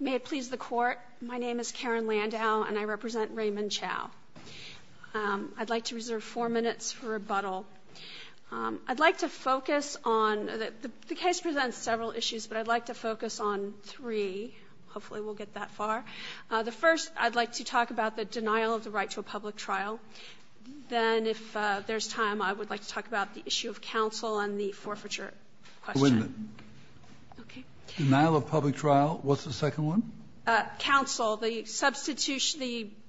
May it please the Court, my name is Karen Landau, and I represent Raymond Chow. I'd like to reserve four minutes for rebuttal. I'd like to focus on—the case presents several issues, but I'd like to focus on three. Hopefully we'll get that far. The first, I'd like to talk about the denial of the right to a public trial. Then, if there's time, I would like to talk about the issue of counsel and the forfeiture question. The denial of public trial. What's the second one? Counsel.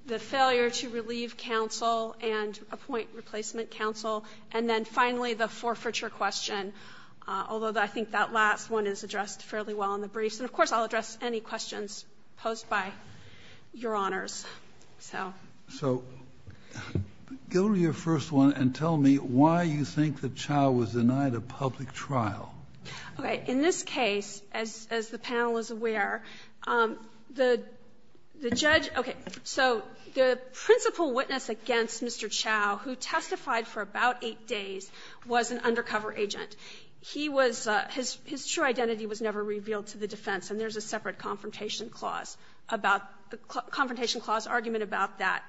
The failure to relieve counsel and appoint replacement counsel. And then, finally, the forfeiture question, although I think that last one is addressed fairly well in the briefs. And, of course, I'll address any questions posed by Your Honors. So. So go to your first one and tell me why you think that Chow was denied a public trial. Okay. In this case, as the panel is aware, the judge — okay. So the principal witness against Mr. Chow, who testified for about 8 days, was an undercover agent. He was — his true identity was never revealed to the defense, and there's a separate confrontation clause about — confrontation clause argument about that.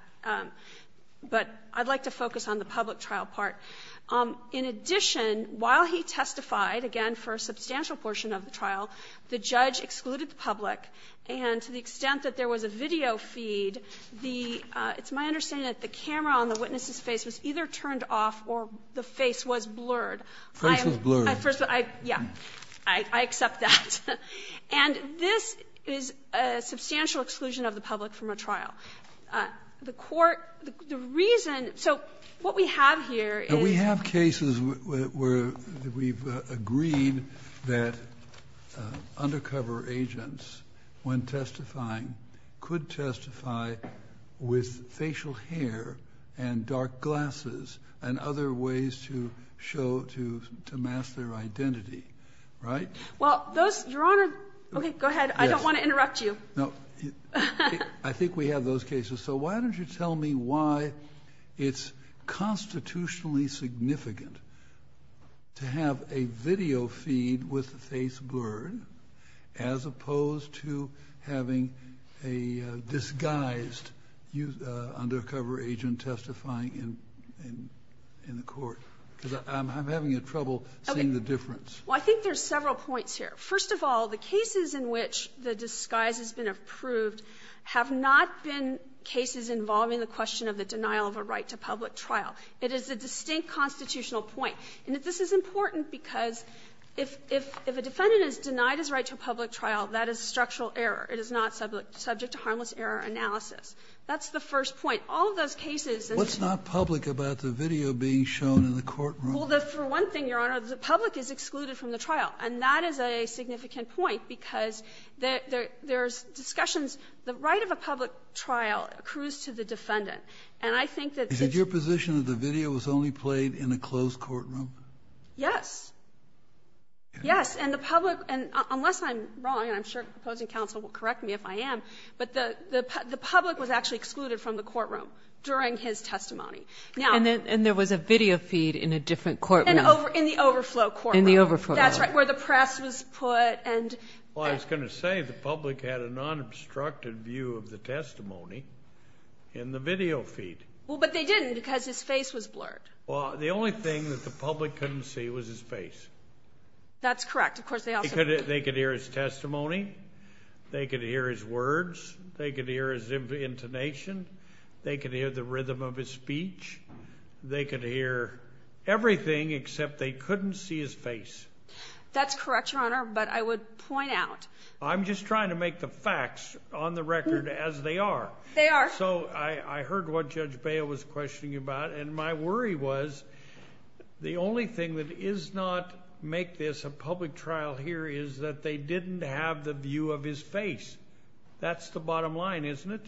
But I'd like to focus on the public trial part. In addition, while he testified, again, for a substantial portion of the trial, the judge excluded the public. And to the extent that there was a video feed, the — it's my understanding that the camera on the witness's face was either turned off or the face was blurred. The face was blurred. Yeah. I accept that. And this is a substantial exclusion of the public from a trial. The court — the reason — so what we have here is — And we have cases where we've agreed that undercover agents, when testifying, could testify with facial hair and dark glasses and other ways to show — to mask their identity. Right? Well, those — Your Honor — Yes. Okay, go ahead. I don't want to interrupt you. No. I think we have those cases. So why don't you tell me why it's constitutionally significant to have a video feed with the face blurred as opposed to having a disguised undercover agent testifying in the court? Because I'm having trouble seeing the difference. Well, I think there's several points here. First of all, the cases in which the disguise has been approved have not been cases involving the question of the denial of a right to public trial. It is a distinct constitutional point. And this is important because if a defendant is denied his right to a public trial, that is a structural error. It is not subject to harmless error analysis. That's the first point. All of those cases that — What's not public about the video being shown in the courtroom? Well, for one thing, Your Honor, the public is excluded from the trial. And that is a significant point because there's discussions — the right of a public trial accrues to the defendant. And I think that it's — Is it your position that the video was only played in a closed courtroom? Yes. Yes. And the public — and unless I'm wrong, and I'm sure the opposing counsel will correct me if I am, but the public was actually excluded from the courtroom during his testimony. Now — And there was a video feed in a different courtroom. In the overflow courtroom. In the overflow. That's right, where the press was put and — Well, I was going to say the public had a nonobstructed view of the testimony in the video feed. Well, but they didn't because his face was blurred. Well, the only thing that the public couldn't see was his face. That's correct. Of course, they also — They could hear his testimony. They could hear his words. They could hear his intonation. They could hear the rhythm of his speech. They could hear everything except they couldn't see his face. That's correct, Your Honor, but I would point out — I'm just trying to make the facts on the record as they are. They are. So I heard what Judge Bail was questioning about, and my worry was the only thing that is not make this a public trial here is that they didn't have the view of his face. That's the bottom line, isn't it?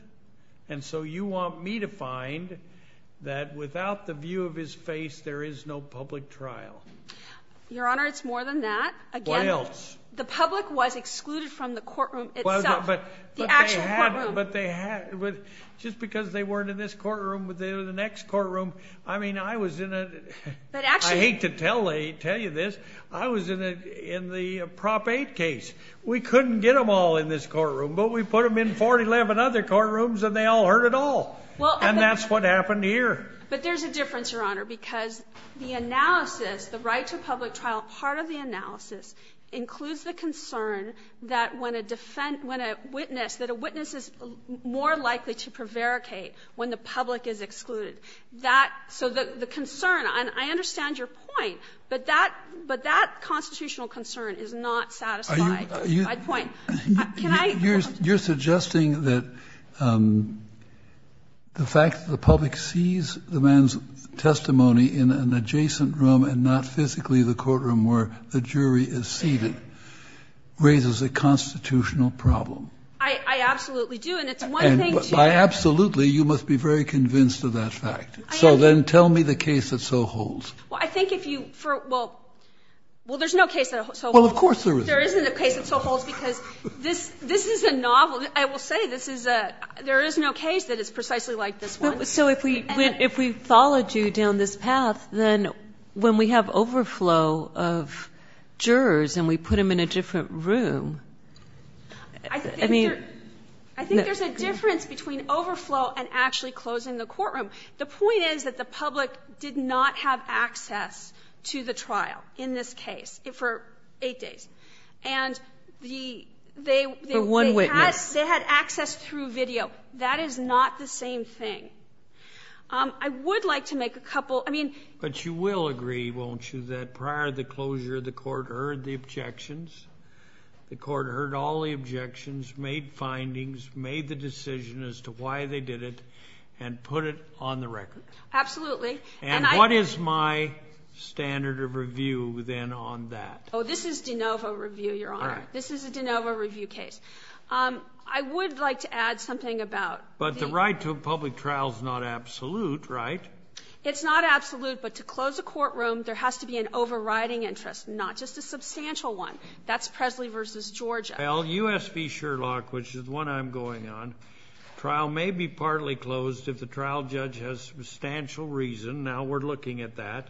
And so you want me to find that without the view of his face, there is no public trial. Your Honor, it's more than that. Again — What else? The public was excluded from the courtroom itself, the actual courtroom. But they had — just because they weren't in this courtroom, they were in the next courtroom. I mean, I was in a — But actually — I hate to tell you this. I was in the Prop 8 case. We couldn't get them all in this courtroom, but we put them in 411 other courtrooms and they all heard it all. And that's what happened here. But there's a difference, Your Honor, because the analysis, the right to public trial part of the analysis includes the concern that when a witness — that a witness is more likely to prevaricate when the public is excluded. So the concern — and I understand your point, but that constitutional concern is not satisfied. That's my point. Can I — You're suggesting that the fact that the public sees the man's testimony in an adjacent room and not physically the courtroom where the jury is seated raises a constitutional problem. I absolutely do, and it's one thing to — By absolutely, you must be very convinced of that fact. So then tell me the case that so holds. Well, I think if you — well, there's no case that so holds. Well, of course there is. There isn't a case that so holds, because this — this is a novel — I will say this is a — there is no case that is precisely like this one. So if we — if we followed you down this path, then when we have overflow of jurors and we put them in a different room, I mean — I think there's a difference between overflow and actually closing the courtroom. The point is that the public did not have access to the trial in this case. For eight days. And the — For one witness. They had access through video. That is not the same thing. I would like to make a couple — I mean — But you will agree, won't you, that prior to the closure, the court heard the objections? The court heard all the objections, made findings, made the decision as to why they did it, and put it on the record? Absolutely. And what is my standard of review, then, on that? Oh, this is de novo review, Your Honor. All right. This is a de novo review case. I would like to add something about the — But the right to a public trial is not absolute, right? It's not absolute, but to close a courtroom, there has to be an overriding interest, not just a substantial one. That's Presley v. Georgia. Well, U.S. v. Sherlock, which is the one I'm going on, trial may be partly closed if the trial judge has substantial reason. Now we're looking at that.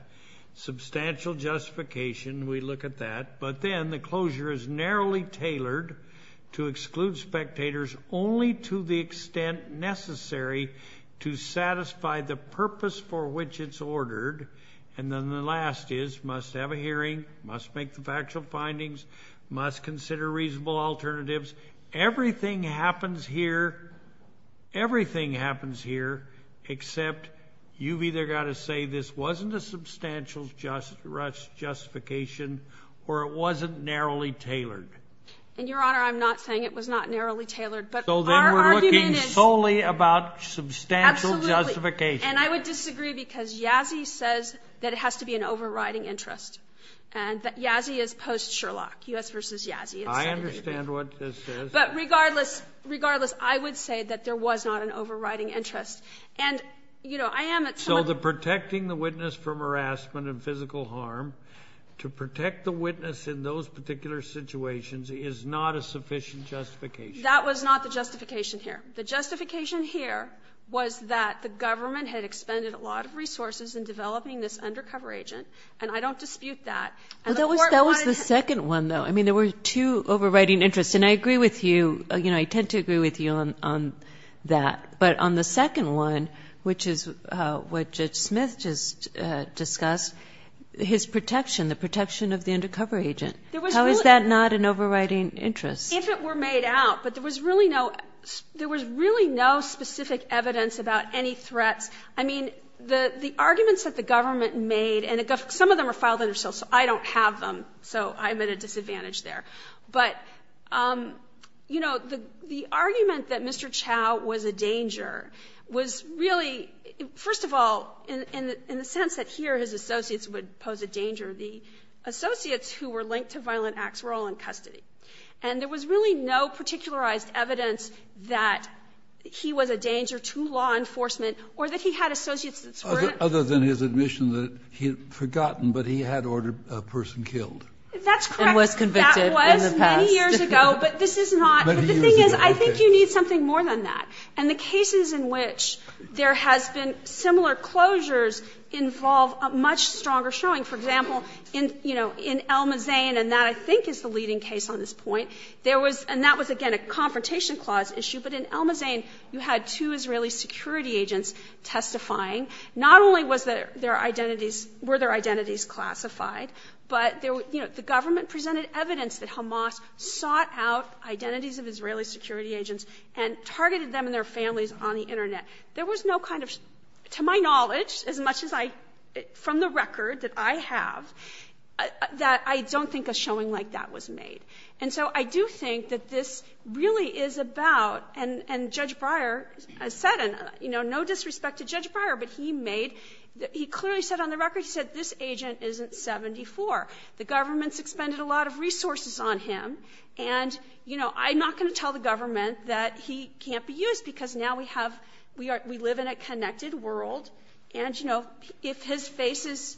Substantial justification, we look at that. But then the closure is narrowly tailored to exclude spectators only to the extent necessary to satisfy the purpose for which it's ordered. And then the last is, must have a hearing, must make the factual findings, must consider reasonable alternatives. Everything happens here, everything happens here except you've either got to say this wasn't a substantial justification or it wasn't narrowly tailored. And, Your Honor, I'm not saying it was not narrowly tailored. But our argument is — So then we're looking solely about substantial justification. Absolutely. And I would disagree because Yazzie says that it has to be an overriding interest and that Yazzie is post-Sherlock, U.S. v. Yazzie. I understand what this says. But regardless, regardless, I would say that there was not an overriding interest. And, you know, I am at some — So the protecting the witness from harassment and physical harm, to protect the witness in those particular situations is not a sufficient justification. That was not the justification here. The justification here was that the government had expended a lot of resources in developing this undercover agent, and I don't dispute that. That was the second one, though. I mean, there were two overriding interests, and I agree with you. You know, I tend to agree with you on that. But on the second one, which is what Judge Smith just discussed, his protection, the protection of the undercover agent. How is that not an overriding interest? If it were made out, but there was really no specific evidence about any threats. I mean, the arguments that the government made, and some of them are filed under SEAL, so I don't have them, so I'm at a disadvantage there. But, you know, the argument that Mr. Chau was a danger was really, first of all, in the sense that here his associates would pose a danger, the associates who were linked to violent acts were all in custody. And there was really no particularized evidence that he was a danger to law enforcement or that he had associates that were in custody. Kennedy, other than his admission that he had forgotten, but he had ordered a person killed. That's correct. And was convicted in the past. That was many years ago, but this is not. Many years ago, okay. But the thing is, I think you need something more than that. And the cases in which there has been similar closures involve a much stronger showing. For example, in, you know, in El Mazan, and that I think is the leading case on this point, there was, and that was, again, a confrontation clause issue, but in El Mazan you had two Israeli security agents testifying. Not only was their identities, were their identities classified, but there were, you know, the government presented evidence that Hamas sought out identities of Israeli security agents and targeted them and their families on the Internet. There was no kind of, to my knowledge, as much as I, from the record that I have, that I don't think a showing like that was made. And so I do think that this really is about, and Judge Breyer has said, you know, no disrespect to Judge Breyer, but he made, he clearly said on the record, he said this agent isn't 74. The government's expended a lot of resources on him, and, you know, I'm not going to tell the government that he can't be used because now we have, we live in a connected world, and, you know, if his face is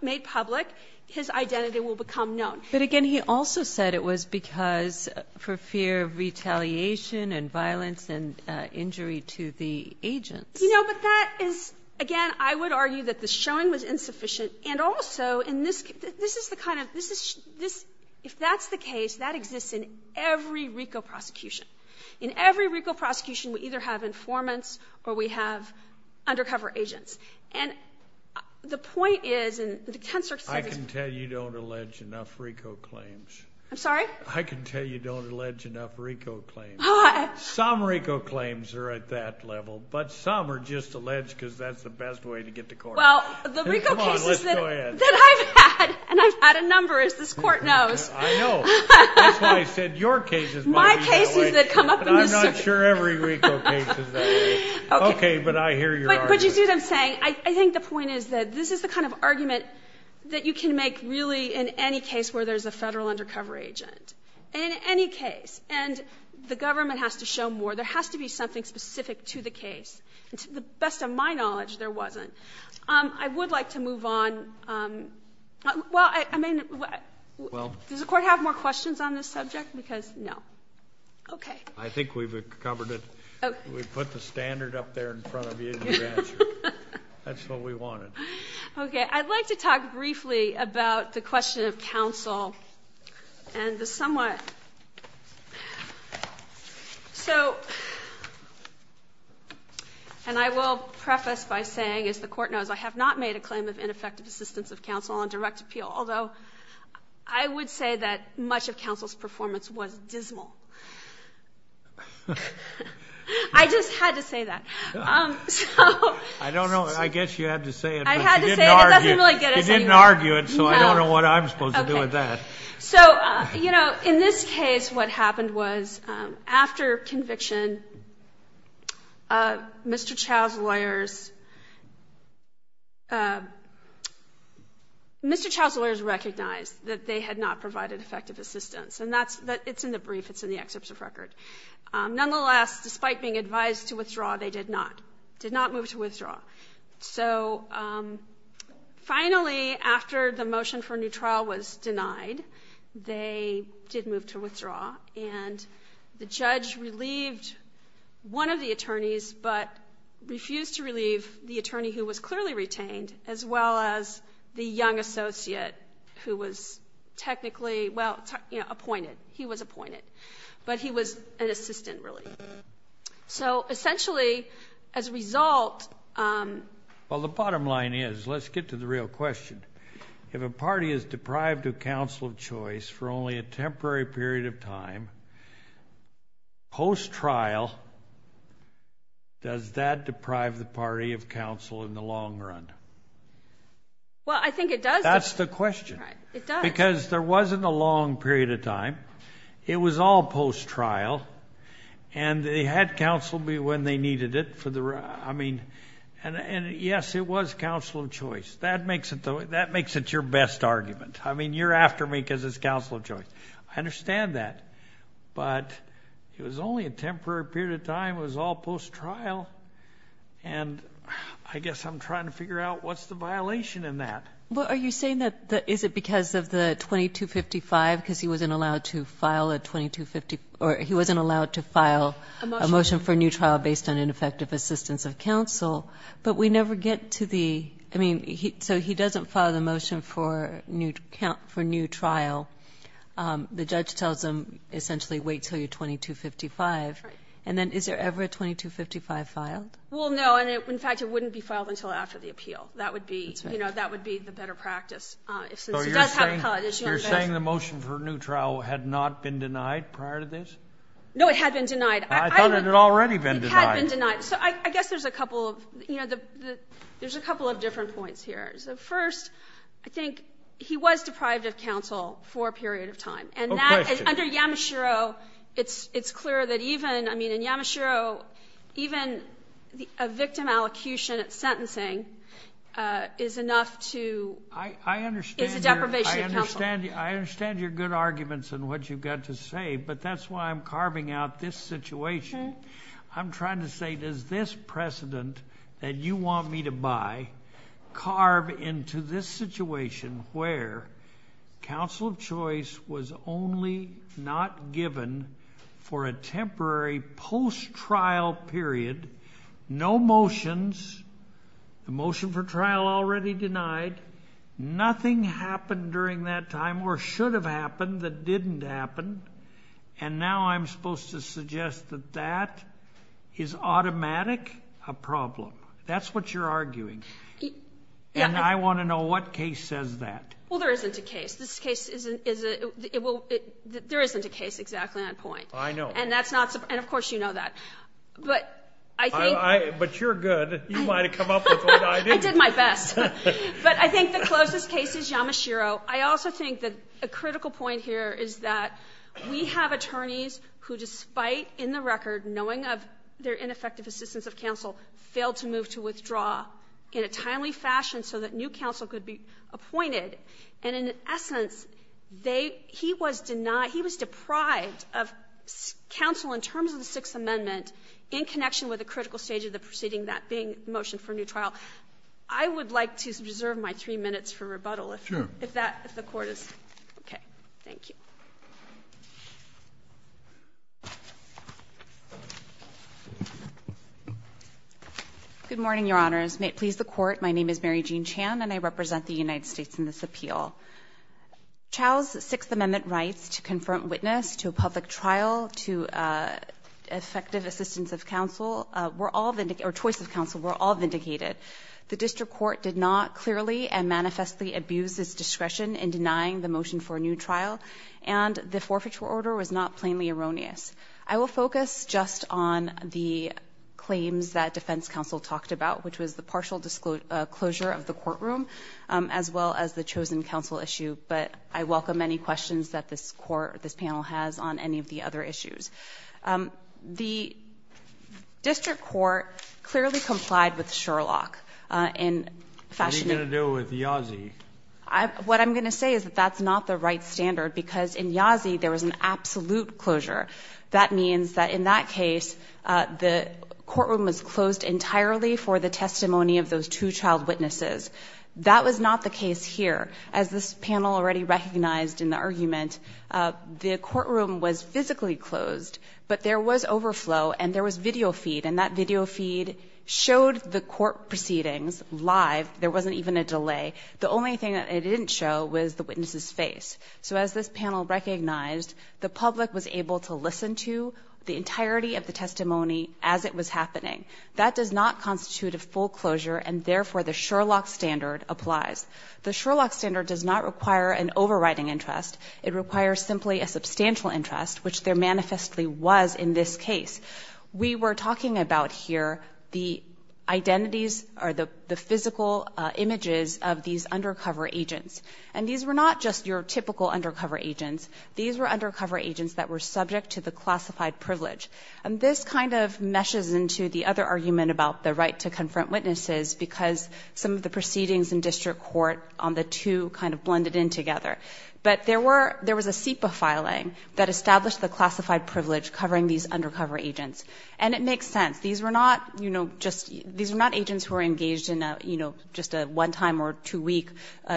made public, his identity will become known. But, again, he also said it was because, for fear of retaliation and violence and injury to the agents. You know, but that is, again, I would argue that the showing was insufficient, and also in this, this is the kind of, this is, if that's the case, that exists in every RICO prosecution. In every RICO prosecution we either have informants or we have undercover agents. And the point is, and the Tensor said this. I can tell you don't allege enough RICO claims. I'm sorry? I can tell you don't allege enough RICO claims. Some RICO claims are at that level, but some are just alleged because that's the best way to get to court. Well, the RICO cases that I've had, and I've had a number, as this court knows. I know. That's why I said your cases might be the way, but I'm not sure every RICO case is that way. Okay, but I hear your argument. But you see what I'm saying? I think the point is that this is the kind of argument that you can make really in any case where there's a Federal undercover agent, in any case. And the government has to show more. There has to be something specific to the case. And to the best of my knowledge, there wasn't. I would like to move on. Well, I mean, does the Court have more questions on this subject? Because no. Okay. I think we've covered it. We put the standard up there in front of you. That's what we wanted. Okay. I'd like to talk briefly about the question of counsel and the somewhat. So, and I will preface by saying, as the Court knows, I have not made a claim of ineffective assistance of counsel on direct appeal, although I would say that much of counsel's performance was dismal. I just had to say that. I don't know. I guess you had to say it. I had to say it. It doesn't really get us anywhere. You didn't argue it, so I don't know what I'm supposed to do with that. So, you know, in this case, what happened was after conviction, Mr. Chau's lawyers recognized that they had not provided effective assistance. And it's in the brief. It's in the excerpt of record. Nonetheless, despite being advised to withdraw, they did not. Did not move to withdraw. So, finally, after the motion for a new trial was denied, they did move to withdraw. And the judge relieved one of the attorneys, but refused to relieve the attorney who was clearly retained, as well as the young associate who was technically, well, appointed. He was appointed. But he was an assistant, really. So, essentially, as a result. Well, the bottom line is, let's get to the real question. If a party is deprived of counsel of choice for only a temporary period of time, post-trial, does that deprive the party of counsel in the long run? Well, I think it does. That's the question. Because there wasn't a long period of time. It was all post-trial. And they had counsel when they needed it. I mean, yes, it was counsel of choice. That makes it your best argument. I mean, you're after me because it's counsel of choice. I understand that. But it was only a temporary period of time. It was all post-trial. And I guess I'm trying to figure out what's the violation in that. Well, are you saying that is it because of the 2255? Because he wasn't allowed to file a 2250 or he wasn't allowed to file a motion for a new trial based on ineffective assistance of counsel. But we never get to the, I mean, so he doesn't file the motion for new trial. The judge tells him, essentially, wait until you're 2255. Right. And then is there ever a 2255 filed? Well, no. And, in fact, it wouldn't be filed until after the appeal. That would be the better practice. So you're saying the motion for a new trial had not been denied prior to this? No, it had been denied. I thought it had already been denied. It had been denied. So I guess there's a couple of different points here. First, I think he was deprived of counsel for a period of time. And under Yamashiro, it's clear that even, I mean, in Yamashiro, even a victim allocution at sentencing is enough to, is a deprivation of counsel. I understand your good arguments and what you've got to say, but that's why I'm carving out this situation. I'm trying to say, does this precedent that you want me to buy carve into this situation where counsel of choice was only not given for a temporary post-trial period, no motions, the motion for trial already denied, nothing happened during that time or should have happened that didn't happen, and now I'm supposed to suggest that that is automatic a problem. That's what you're arguing. And I want to know what case says that. Well, there isn't a case. This case is a, it will, there isn't a case exactly on point. I know. And that's not, and of course you know that. But I think. But you're good. You might have come up with one. I did my best. But I think the closest case is Yamashiro. I also think that a critical point here is that we have attorneys who, despite in the record knowing of their ineffective assistance of counsel, failed to move to withdraw in a timely fashion so that new counsel could be appointed. And in essence, they, he was denied, he was deprived of counsel in terms of the Sixth Amendment in connection with a critical stage of the proceeding, that being the motion for a new trial. I would like to reserve my three minutes for rebuttal if that, if the Court is, okay. Thank you. May it please the Court. My name is Mary Jean Chan, and I represent the United States in this appeal. Chau's Sixth Amendment rights to confront witness, to a public trial, to effective assistance of counsel were all, or choice of counsel, were all vindicated. The District Court did not clearly and manifestly abuse its discretion in denying the motion for a new trial, and the forfeiture order was not plainly erroneous. I will focus just on the claims that defense counsel talked about, which was the partial disclosure of the courtroom, as well as the chosen counsel issue. But I welcome any questions that this Court, this panel has on any of the other issues. The District Court clearly complied with Sherlock in fashioning. What are you going to do with Yazzie? What I'm going to say is that that's not the right standard, because in Yazzie, there was an absolute closure. That means that in that case, the courtroom was closed entirely for the testimony of those two child witnesses. That was not the case here. As this panel already recognized in the argument, the courtroom was physically closed, but there was overflow and there was video feed, and that video feed showed the court proceedings live. There wasn't even a delay. The only thing that it didn't show was the witness's face. So as this panel recognized, the public was able to listen to the entirety of the testimony as it was happening. That does not constitute a full closure, and therefore the Sherlock standard applies. The Sherlock standard does not require an overriding interest. It requires simply a substantial interest, which there manifestly was in this case. We were talking about here the identities or the physical images of these undercover agents. And these were not just your typical undercover agents. These were undercover agents that were subject to the classified privilege. And this kind of meshes into the other argument about the right to confront witnesses, because some of the proceedings in district court on the two kind of blended in together. But there was a SIPA filing that established the classified privilege covering these undercover agents. And it makes sense. These were not agents who were engaged in just a one-time or two-week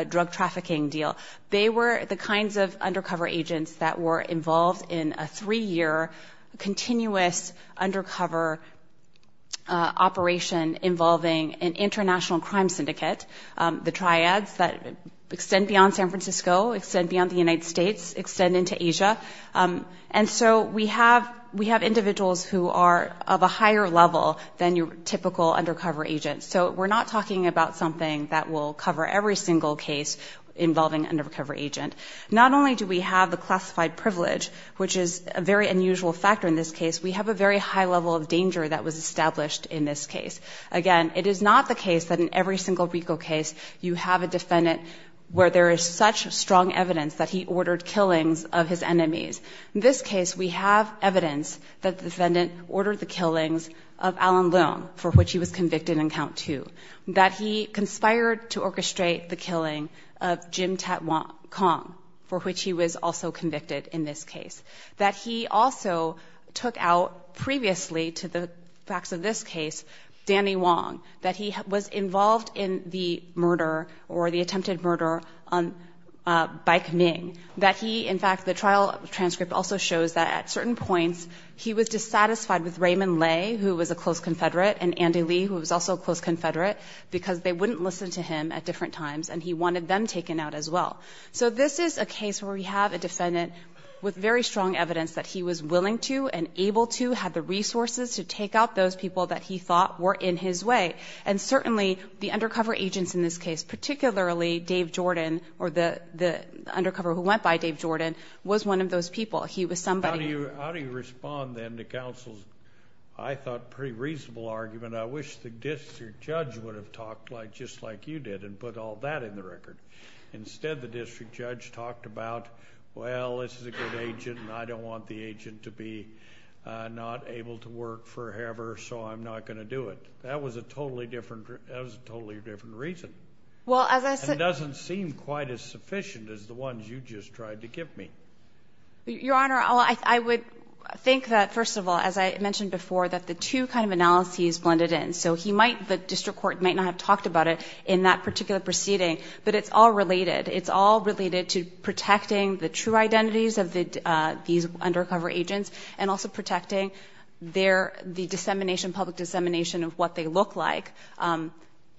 drug trafficking deal. They were the kinds of undercover agents that were involved in a three-year continuous undercover operation involving an international crime syndicate, the triads that extend beyond San Francisco, extend beyond the United States, extend into Asia. And so we have individuals who are of a higher level than your typical undercover agents. So we're not talking about something that will cover every single case involving an undercover agent. Not only do we have the classified privilege, which is a very unusual factor in this case, we have a very high level of danger that was established in this case. Again, it is not the case that in every single RICO case you have a defendant where there is such strong evidence that he ordered killings of his enemies. In this case, we have evidence that the defendant ordered the killings of Alan Wong, too, that he conspired to orchestrate the killing of Jim Tat-Kong, for which he was also convicted in this case, that he also took out previously to the facts of this case Danny Wong, that he was involved in the murder or the attempted murder on Bike Ming, that he, in fact, the trial transcript also shows that at certain points he was dissatisfied with Raymond Lay, who was a close confederate, because they wouldn't listen to him at different times, and he wanted them taken out as well. So this is a case where we have a defendant with very strong evidence that he was willing to and able to have the resources to take out those people that he thought were in his way. And certainly, the undercover agents in this case, particularly Dave Jordan or the undercover who went by Dave Jordan, was one of those people. He was somebody who... How do you respond, then, to counsel's, I thought, pretty reasonable argument, and I wish the district judge would have talked just like you did and put all that in the record. Instead, the district judge talked about, well, this is a good agent, and I don't want the agent to be not able to work forever, so I'm not going to do it. That was a totally different reason. It doesn't seem quite as sufficient as the ones you just tried to give me. Your Honor, I would think that, first of all, as I mentioned before, that the two kind of analyses blended in. So he might, the district court might not have talked about it in that particular proceeding, but it's all related. It's all related to protecting the true identities of these undercover agents and also protecting their, the dissemination, public dissemination of what they look like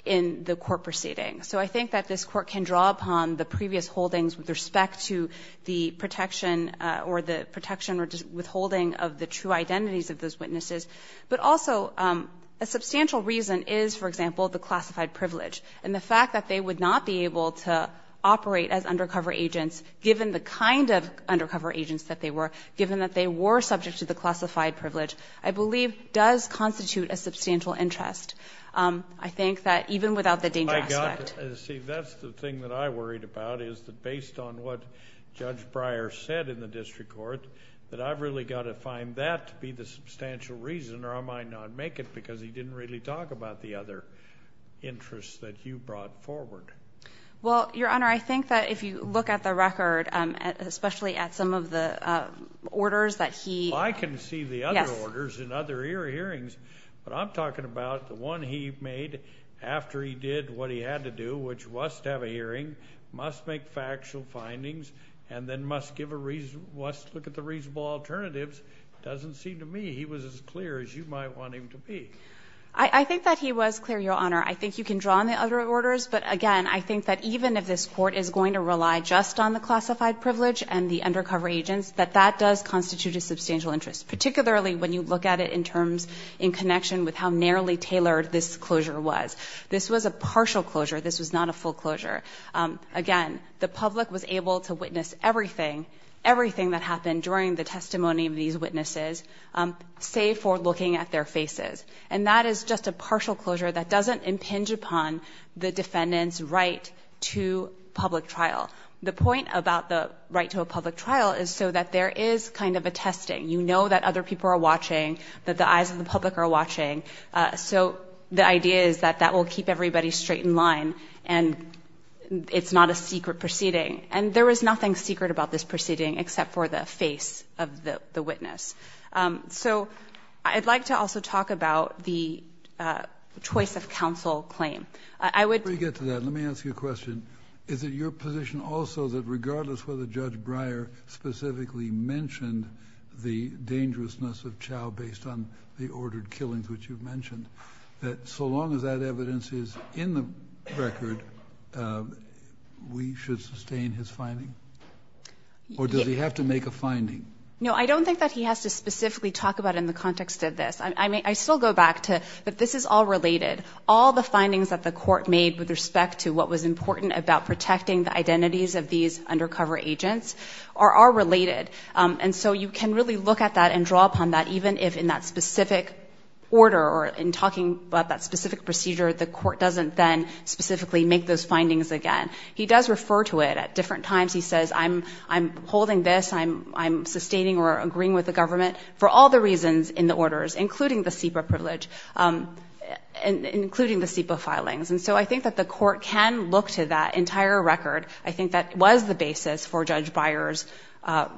in the court proceeding. So I think that this court can draw upon the previous holdings with respect to the protection or the protection or withholding of the true identities of those agents. Also, a substantial reason is, for example, the classified privilege. And the fact that they would not be able to operate as undercover agents, given the kind of undercover agents that they were, given that they were subject to the classified privilege, I believe does constitute a substantial interest. I think that even without the danger aspect. See, that's the thing that I worried about, is that based on what Judge Breyer said in the district court, that I've really got to find that to be the substantial reason or I might not make it because he didn't really talk about the other interests that you brought forward. Well, Your Honor, I think that if you look at the record, especially at some of the orders that he. Well, I can see the other orders and other hearings, but I'm talking about the one he made after he did what he had to do, which was to have a hearing, must make factual findings, and then must give a reason, must look at the reasonable alternatives, doesn't seem to me. He was as clear as you might want him to be. I think that he was clear, Your Honor. I think you can draw on the other orders, but again, I think that even if this court is going to rely just on the classified privilege and the undercover agents, that that does constitute a substantial interest, particularly when you look at it in terms, in connection with how narrowly tailored this closure was. This was a partial closure. This was not a full closure. Again, the public was able to witness everything, everything that happened during the testimony of these witnesses, save for looking at their faces. And that is just a partial closure that doesn't impinge upon the defendant's right to public trial. The point about the right to a public trial is so that there is kind of a testing. You know that other people are watching, that the eyes of the public are watching. So the idea is that that will keep everybody straight in line, and it's not a secret proceeding. And there was nothing secret about this proceeding, except for the face of the witness. So I'd like to also talk about the choice of counsel claim. I would – Let me get to that. Let me ask you a question. Is it your position also that regardless whether Judge Breyer specifically mentioned the dangerousness of Chau based on the ordered killings which you've mentioned, that so long as that evidence is in the record, we should sustain his finding? Or does he have to make a finding? No, I don't think that he has to specifically talk about it in the context of this. I still go back to that this is all related. All the findings that the court made with respect to what was important about protecting the identities of these undercover agents are related. And so you can really look at that and draw upon that, even if in that specific order or in talking about that specific procedure, the court doesn't then specifically make those findings again. He does refer to it at different times. He says I'm holding this, I'm sustaining or agreeing with the government for all the reasons in the orders, including the SEPA privilege, including the SEPA filings. And so I think that the court can look to that entire record. I think that was the basis for Judge Breyer's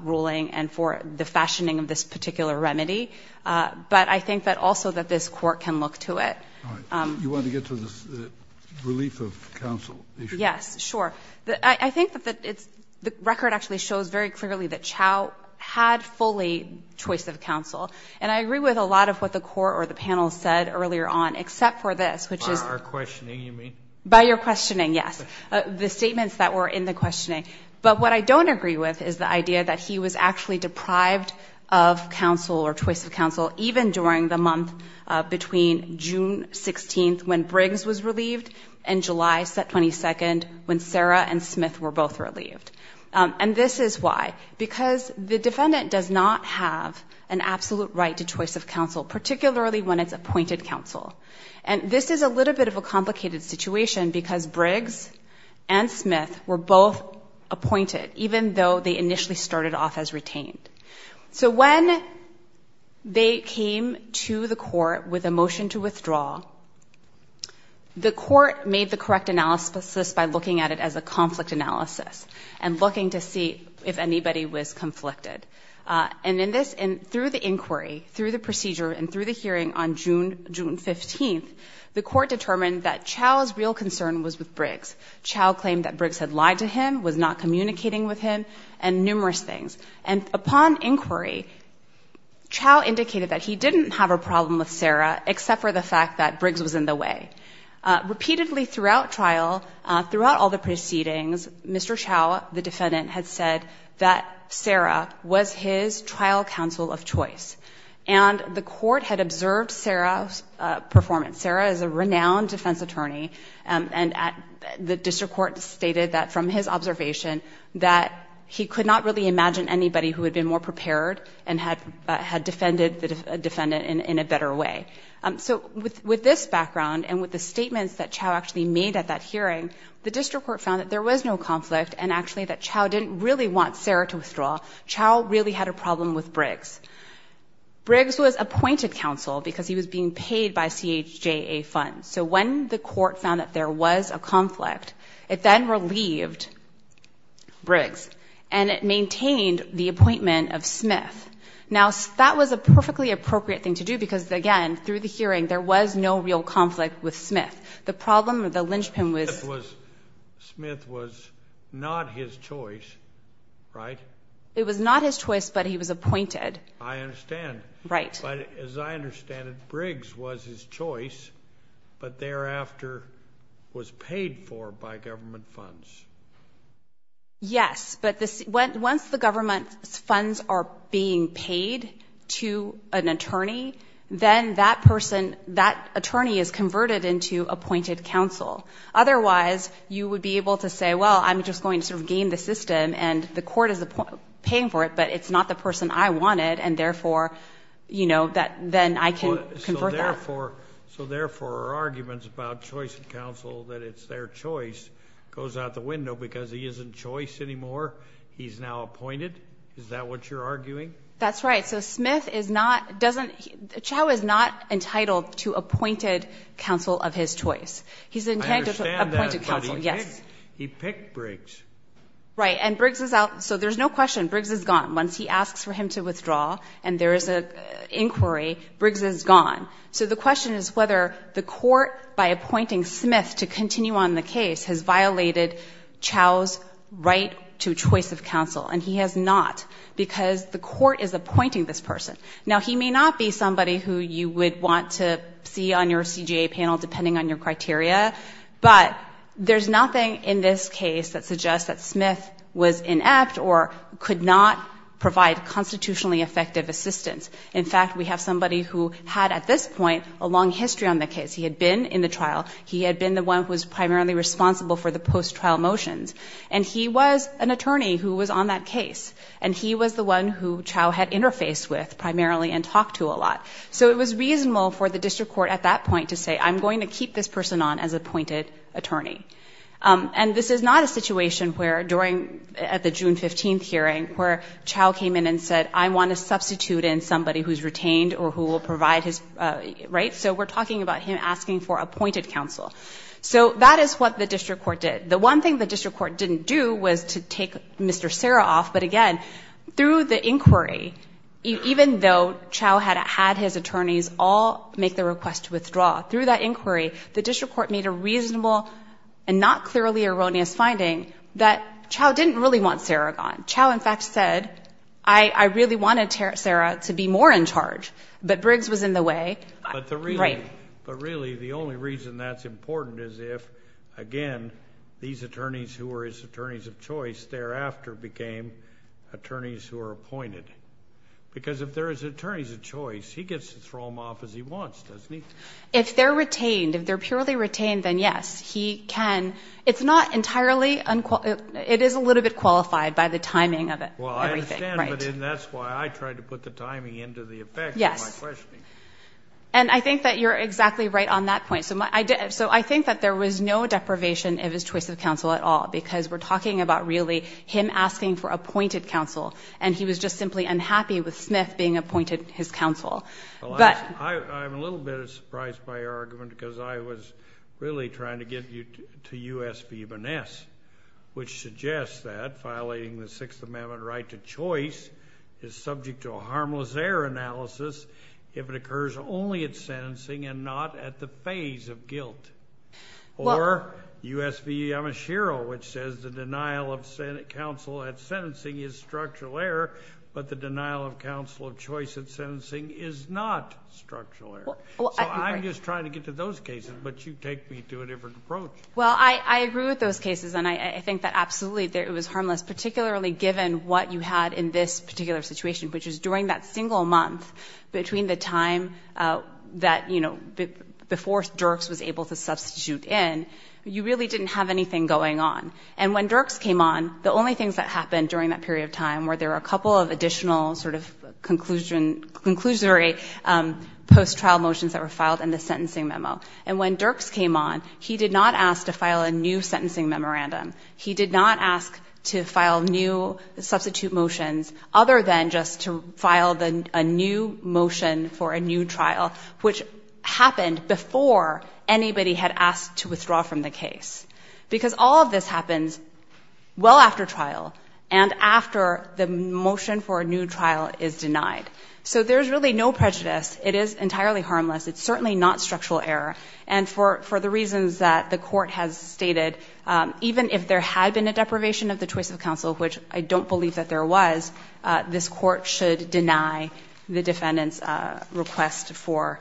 ruling and for the fashioning of this particular remedy. But I think that also that this court can look to it. All right. You want to get to the relief of counsel issue? Yes, sure. I think that the record actually shows very clearly that Chau had fully choice of counsel. And I agree with a lot of what the court or the panel said earlier on, except for this, which is. By our questioning you mean? By your questioning, yes. The statements that were in the questioning. But what I don't agree with is the idea that he was actually deprived of counsel or choice of counsel, even during the month between June 16th when Sarah and Smith were both relieved. And this is why. Because the defendant does not have an absolute right to choice of counsel, particularly when it's appointed counsel. And this is a little bit of a complicated situation because Briggs and Smith were both appointed, even though they initially started off as retained. So when they came to the court with a motion to withdraw, the court made the correct analysis by looking at it as a conflict analysis and looking to see if anybody was conflicted. And in this, through the inquiry, through the procedure, and through the hearing on June 15th, the court determined that Chau's real concern was with Briggs. Chau claimed that Briggs had lied to him, was not communicating with him, and numerous things. And upon inquiry, Chau indicated that he didn't have a problem with Sarah, except for the fact that Briggs was in the way. Repeatedly throughout trial, throughout all the proceedings, Mr. Chau, the defendant, had said that Sarah was his trial counsel of choice. And the court had observed Sarah's performance. Sarah is a renowned defense attorney. And the district court stated that from his observation that he could not really imagine anybody who had been more prepared and had defended the defendant in a better way. So with this background and with the statements that Chau actually made at that hearing, the district court found that there was no conflict and actually that Chau didn't really want Sarah to withdraw. Chau really had a problem with Briggs. Briggs was appointed counsel because he was being paid by CHJA funds. So when the court found that there was a conflict, it then relieved Briggs and it maintained the appointment of Smith. Now, that was a perfectly appropriate thing to do because, again, through the hearing, there was no real conflict with Smith. The problem with the linchpin was. Smith was not his choice, right? It was not his choice, but he was appointed. I understand. Right. But as I understand it, Briggs was his choice, but thereafter was paid for by government funds. Yes. But once the government funds are being paid to an attorney, then that person, that attorney is converted into appointed counsel. Otherwise, you would be able to say, well, I'm just going to sort of game the system and the court is paying for it, but it's not the person I wanted and, therefore, you know, then I can convert that. So, therefore, arguments about choice of counsel, that it's their choice, goes out the window because he isn't choice anymore. He's now appointed. Is that what you're arguing? That's right. So Smith is not, doesn't, Chau is not entitled to appointed counsel of his choice. He's intended to appointed counsel. Yes. He picked Briggs. Right. And Briggs is out. So there's no question. Briggs is gone. Once he asks for him to withdraw and there is an inquiry, Briggs is gone. So the question is whether the court, by appointing Smith to continue on the case, has violated Chau's right to choice of counsel, and he has not because the court is appointing this person. Now, he may not be somebody who you would want to see on your CJA panel, depending on your criteria, but there's nothing in this case that suggests that Smith was inept or could not provide constitutionally effective assistance. In fact, we have somebody who had at this point a long history on the case. He had been in the trial. He had been the one who was primarily responsible for the post-trial motions. And he was an attorney who was on that case. And he was the one who Chau had interfaced with primarily and talked to a lot. So it was reasonable for the district court at that point to say, I'm going to keep this person on as appointed attorney. where Chau came in and said, I want to substitute in somebody who's retained or who will provide his, right? So we're talking about him asking for appointed counsel. So that is what the district court did. The one thing the district court didn't do was to take Mr. Serra off. But again, through the inquiry, even though Chau had had his attorneys all make the request to withdraw, through that inquiry, the district court made a reasonable and not clearly erroneous finding that Chau didn't really want Serra gone. Chau, in fact, said, I really wanted Serra to be more in charge. But Briggs was in the way. But really, the only reason that's important is if, again, these attorneys who were his attorneys of choice thereafter became attorneys who are appointed. Because if there is attorneys of choice, he gets to throw them off as he wants, doesn't he? If they're retained, if they're purely retained, then yes, he can. It's not entirely unqualified. It is a little bit qualified by the timing of everything. Well, I understand. But that's why I tried to put the timing into the effect of my questioning. Yes. And I think that you're exactly right on that point. So I think that there was no deprivation of his choice of counsel at all because we're talking about really him asking for appointed counsel, and he was just simply unhappy with Smith being appointed his counsel. I'm a little bit surprised by your argument because I was really trying to get you to U.S. v. Van Ness, which suggests that violating the Sixth Amendment right to choice is subject to a harmless error analysis if it occurs only at sentencing and not at the phase of guilt. Or U.S. v. Yamashiro, which says the denial of counsel at sentencing is structural error, but the denial of counsel of choice at sentencing is not structural error. So I'm just trying to get to those cases, but you take me to a different approach. Well, I agree with those cases, and I think that absolutely it was harmless, particularly given what you had in this particular situation, which is during that single month between the time that, you know, before Dirks was able to substitute in, you really didn't have anything going on. And when Dirks came on, the only things that happened during that period of time were there were a couple of additional sort of conclusion, conclusionary post-trial motions that were filed in the sentencing memo. And when Dirks came on, he did not ask to file a new sentencing memorandum. He did not ask to file new substitute motions other than just to file a new motion for a new trial, which happened before anybody had asked to withdraw from the case. Because all of this happens well after trial and after the motion for a new trial is denied. So there's really no prejudice. It is entirely harmless. It's certainly not structural error. And for the reasons that the court has stated, even if there had been a deprivation of the choice of counsel, which I don't believe that there was, this court should deny the defendant's request for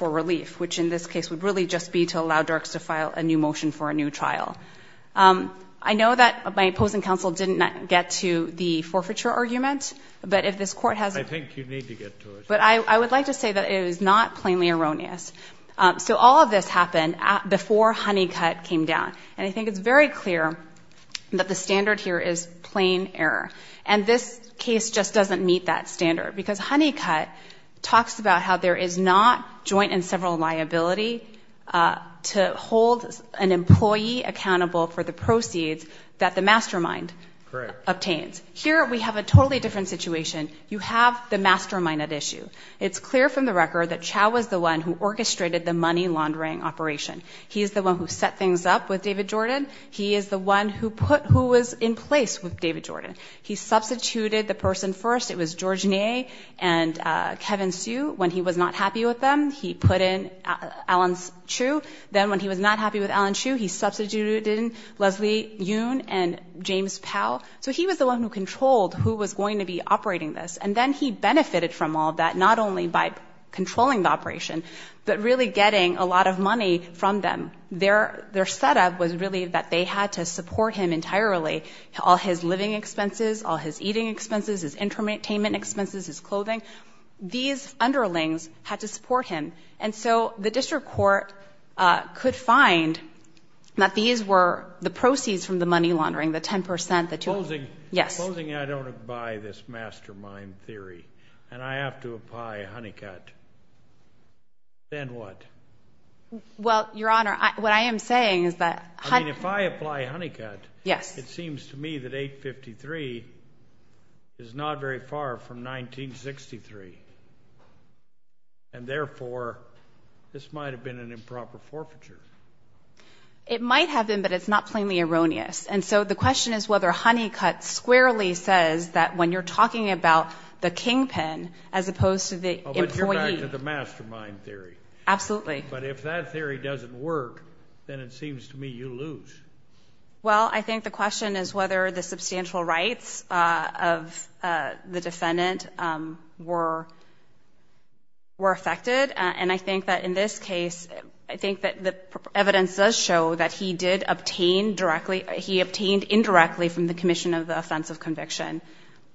relief, which in this case would really just be to allow Dirks to file a new motion for a new trial. I know that my opposing counsel didn't get to the forfeiture argument, but if this court has a... I think you need to get to it. But I would like to say that it is not plainly erroneous. So all of this happened before Honeycutt came down. And I think it's very clear that the standard here is plain error. And this case just doesn't meet that standard, because Honeycutt talks about how there is not joint and several liability to hold an employee accountable for the proceeds that the mastermind obtains. Here we have a totally different situation. You have the mastermind at issue. It's clear from the record that Chau was the one who orchestrated the money laundering operation. He is the one who set things up with David Jordan. He is the one who was in place with David Jordan. He substituted the person first. It was George Ney and Kevin Hsu. When he was not happy with them, he put in Alan Hsu. Then when he was not happy with Alan Hsu, he substituted in Leslie Yoon and James Powell. So he was the one who controlled who was going to be operating this. And then he benefited from all that, not only by controlling the operation, but really getting a lot of money from them. Their setup was really that they had to support him entirely, all his living expenses, all his eating expenses, his entertainment expenses, his clothing. These underlings had to support him. And so the district court could find that these were the proceeds from the money laundering, the 10%, the 200. Closing, I don't buy this mastermind theory, and I have to apply Honeycutt. Then what? Well, Your Honor, what I am saying is that Honeycutt. I mean, if I apply Honeycutt, it seems to me that 853 is not very far from 1963. And therefore, this might have been an improper forfeiture. It might have been, but it's not plainly erroneous. And so the question is whether Honeycutt squarely says that when you're talking about the kingpin as opposed to the employee. Oh, but you're back to the mastermind theory. Absolutely. But if that theory doesn't work, then it seems to me you lose. Well, I think the question is whether the substantial rights of the defendant were affected. And I think that in this case, I think that the evidence does show that he did obtain directly or he obtained indirectly from the commission of the offense of conviction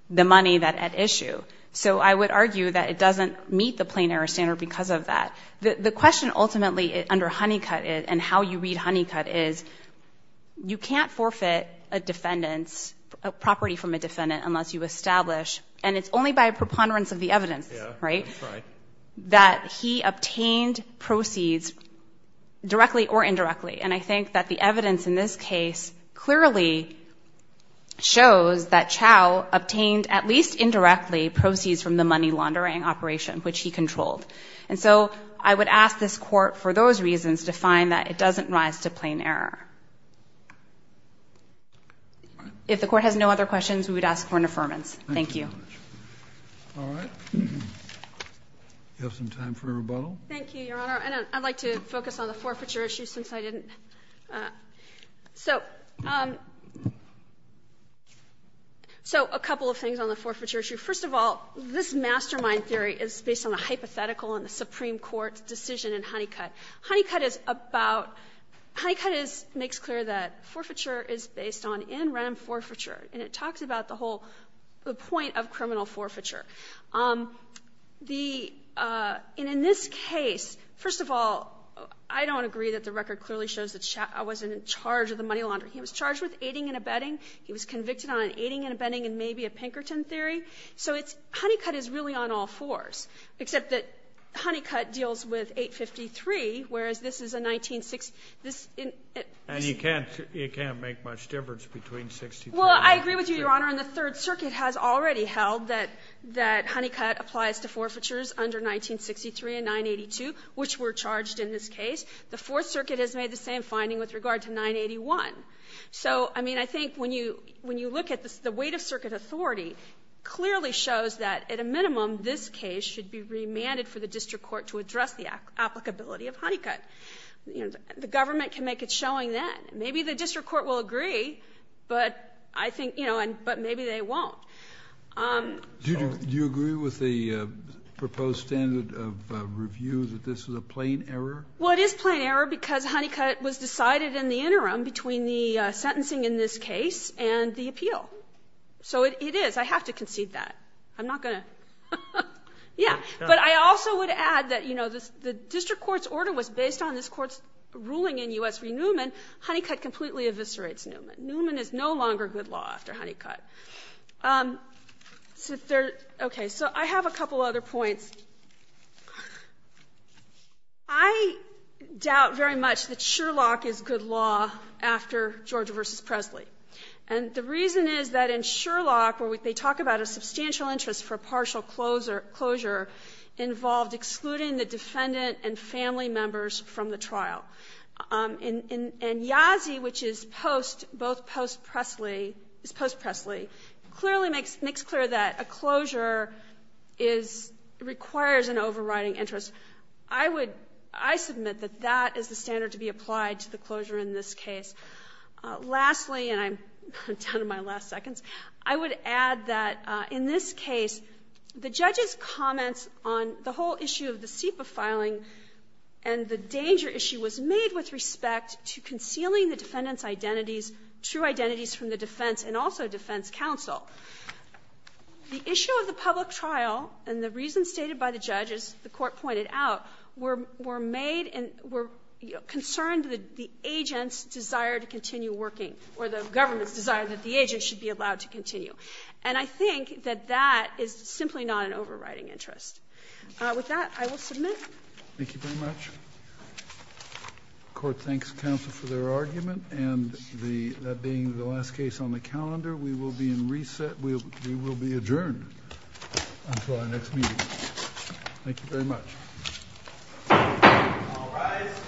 the money at issue. So I would argue that it doesn't meet the plain error standard because of that. The question ultimately under Honeycutt and how you read Honeycutt is you can't forfeit a defendant's property from a defendant unless you establish, and it's only by preponderance of the evidence, right, that he obtained proceeds directly or indirectly. And I think that the evidence in this case clearly shows that Chau obtained at least indirectly proceeds from the money laundering operation, which he controlled. And so I would ask this Court, for those reasons, to find that it doesn't rise to plain error. If the Court has no other questions, we would ask for an affirmance. Thank you. All right. Do you have some time for rebuttal? Thank you, Your Honor. I'd like to focus on the forfeiture issue since I didn't. So a couple of things on the forfeiture issue. First of all, this mastermind theory is based on a hypothetical in the Supreme Court's decision in Honeycutt. Honeycutt is about — Honeycutt makes clear that forfeiture is based on in-rem forfeiture, and it talks about the whole point of criminal forfeiture. The — and in this case, first of all, I don't agree that the record clearly shows that Chau wasn't in charge of the money laundering. He was charged with aiding and abetting. He was convicted on aiding and abetting and maybe a Pinkerton theory. So it's — Honeycutt is really on all fours, except that Honeycutt deals with 853, whereas this is a — And you can't make much difference between 653 — Well, I agree with you, Your Honor. And the Third Circuit has already held that Honeycutt applies to forfeitures under 1963 and 982, which were charged in this case. The Fourth Circuit has made the same finding with regard to 981. So, I mean, I think when you look at this, the weight of circuit authority clearly shows that at a minimum, this case should be remanded for the district court to address the applicability of Honeycutt. The government can make its showing then. Maybe the district court will agree, but I think — you know, but maybe they won't. Do you agree with the proposed standard of review that this is a plain error? Well, it is plain error because Honeycutt was decided in the interim between the sentencing in this case and the appeal. So it is. I have to concede that. I'm not going to — yeah. But I also would add that, you know, the district court's order was based on this court's ruling in U.S. v. Newman. Honeycutt completely eviscerates Newman. Newman is no longer good law after Honeycutt. Okay. So I have a couple other points. I doubt very much that Sherlock is good law after Georgia v. Presley. And the reason is that in Sherlock, where they talk about a substantial interest for partial closure involved excluding the defendant and family members from the trial. And Yazzie, which is post — both post-Presley — is post-Presley, clearly makes clear that a closure is — requires an overriding interest. I would — I submit that that is the standard to be applied to the closure in this case. Lastly, and I'm down to my last seconds, I would add that in this case, the judge's made with respect to concealing the defendant's identities, true identities from the defense and also defense counsel. The issue of the public trial and the reasons stated by the judge, as the court pointed out, were made and were concerned that the agent's desire to continue working, or the government's desire that the agent should be allowed to continue. And I think that that is simply not an overriding interest. With that, I will submit. Thank you very much. The court thanks counsel for their argument. And the — that being the last case on the calendar, we will be in reset. We will be adjourned until our next meeting. Thank you very much. All rise.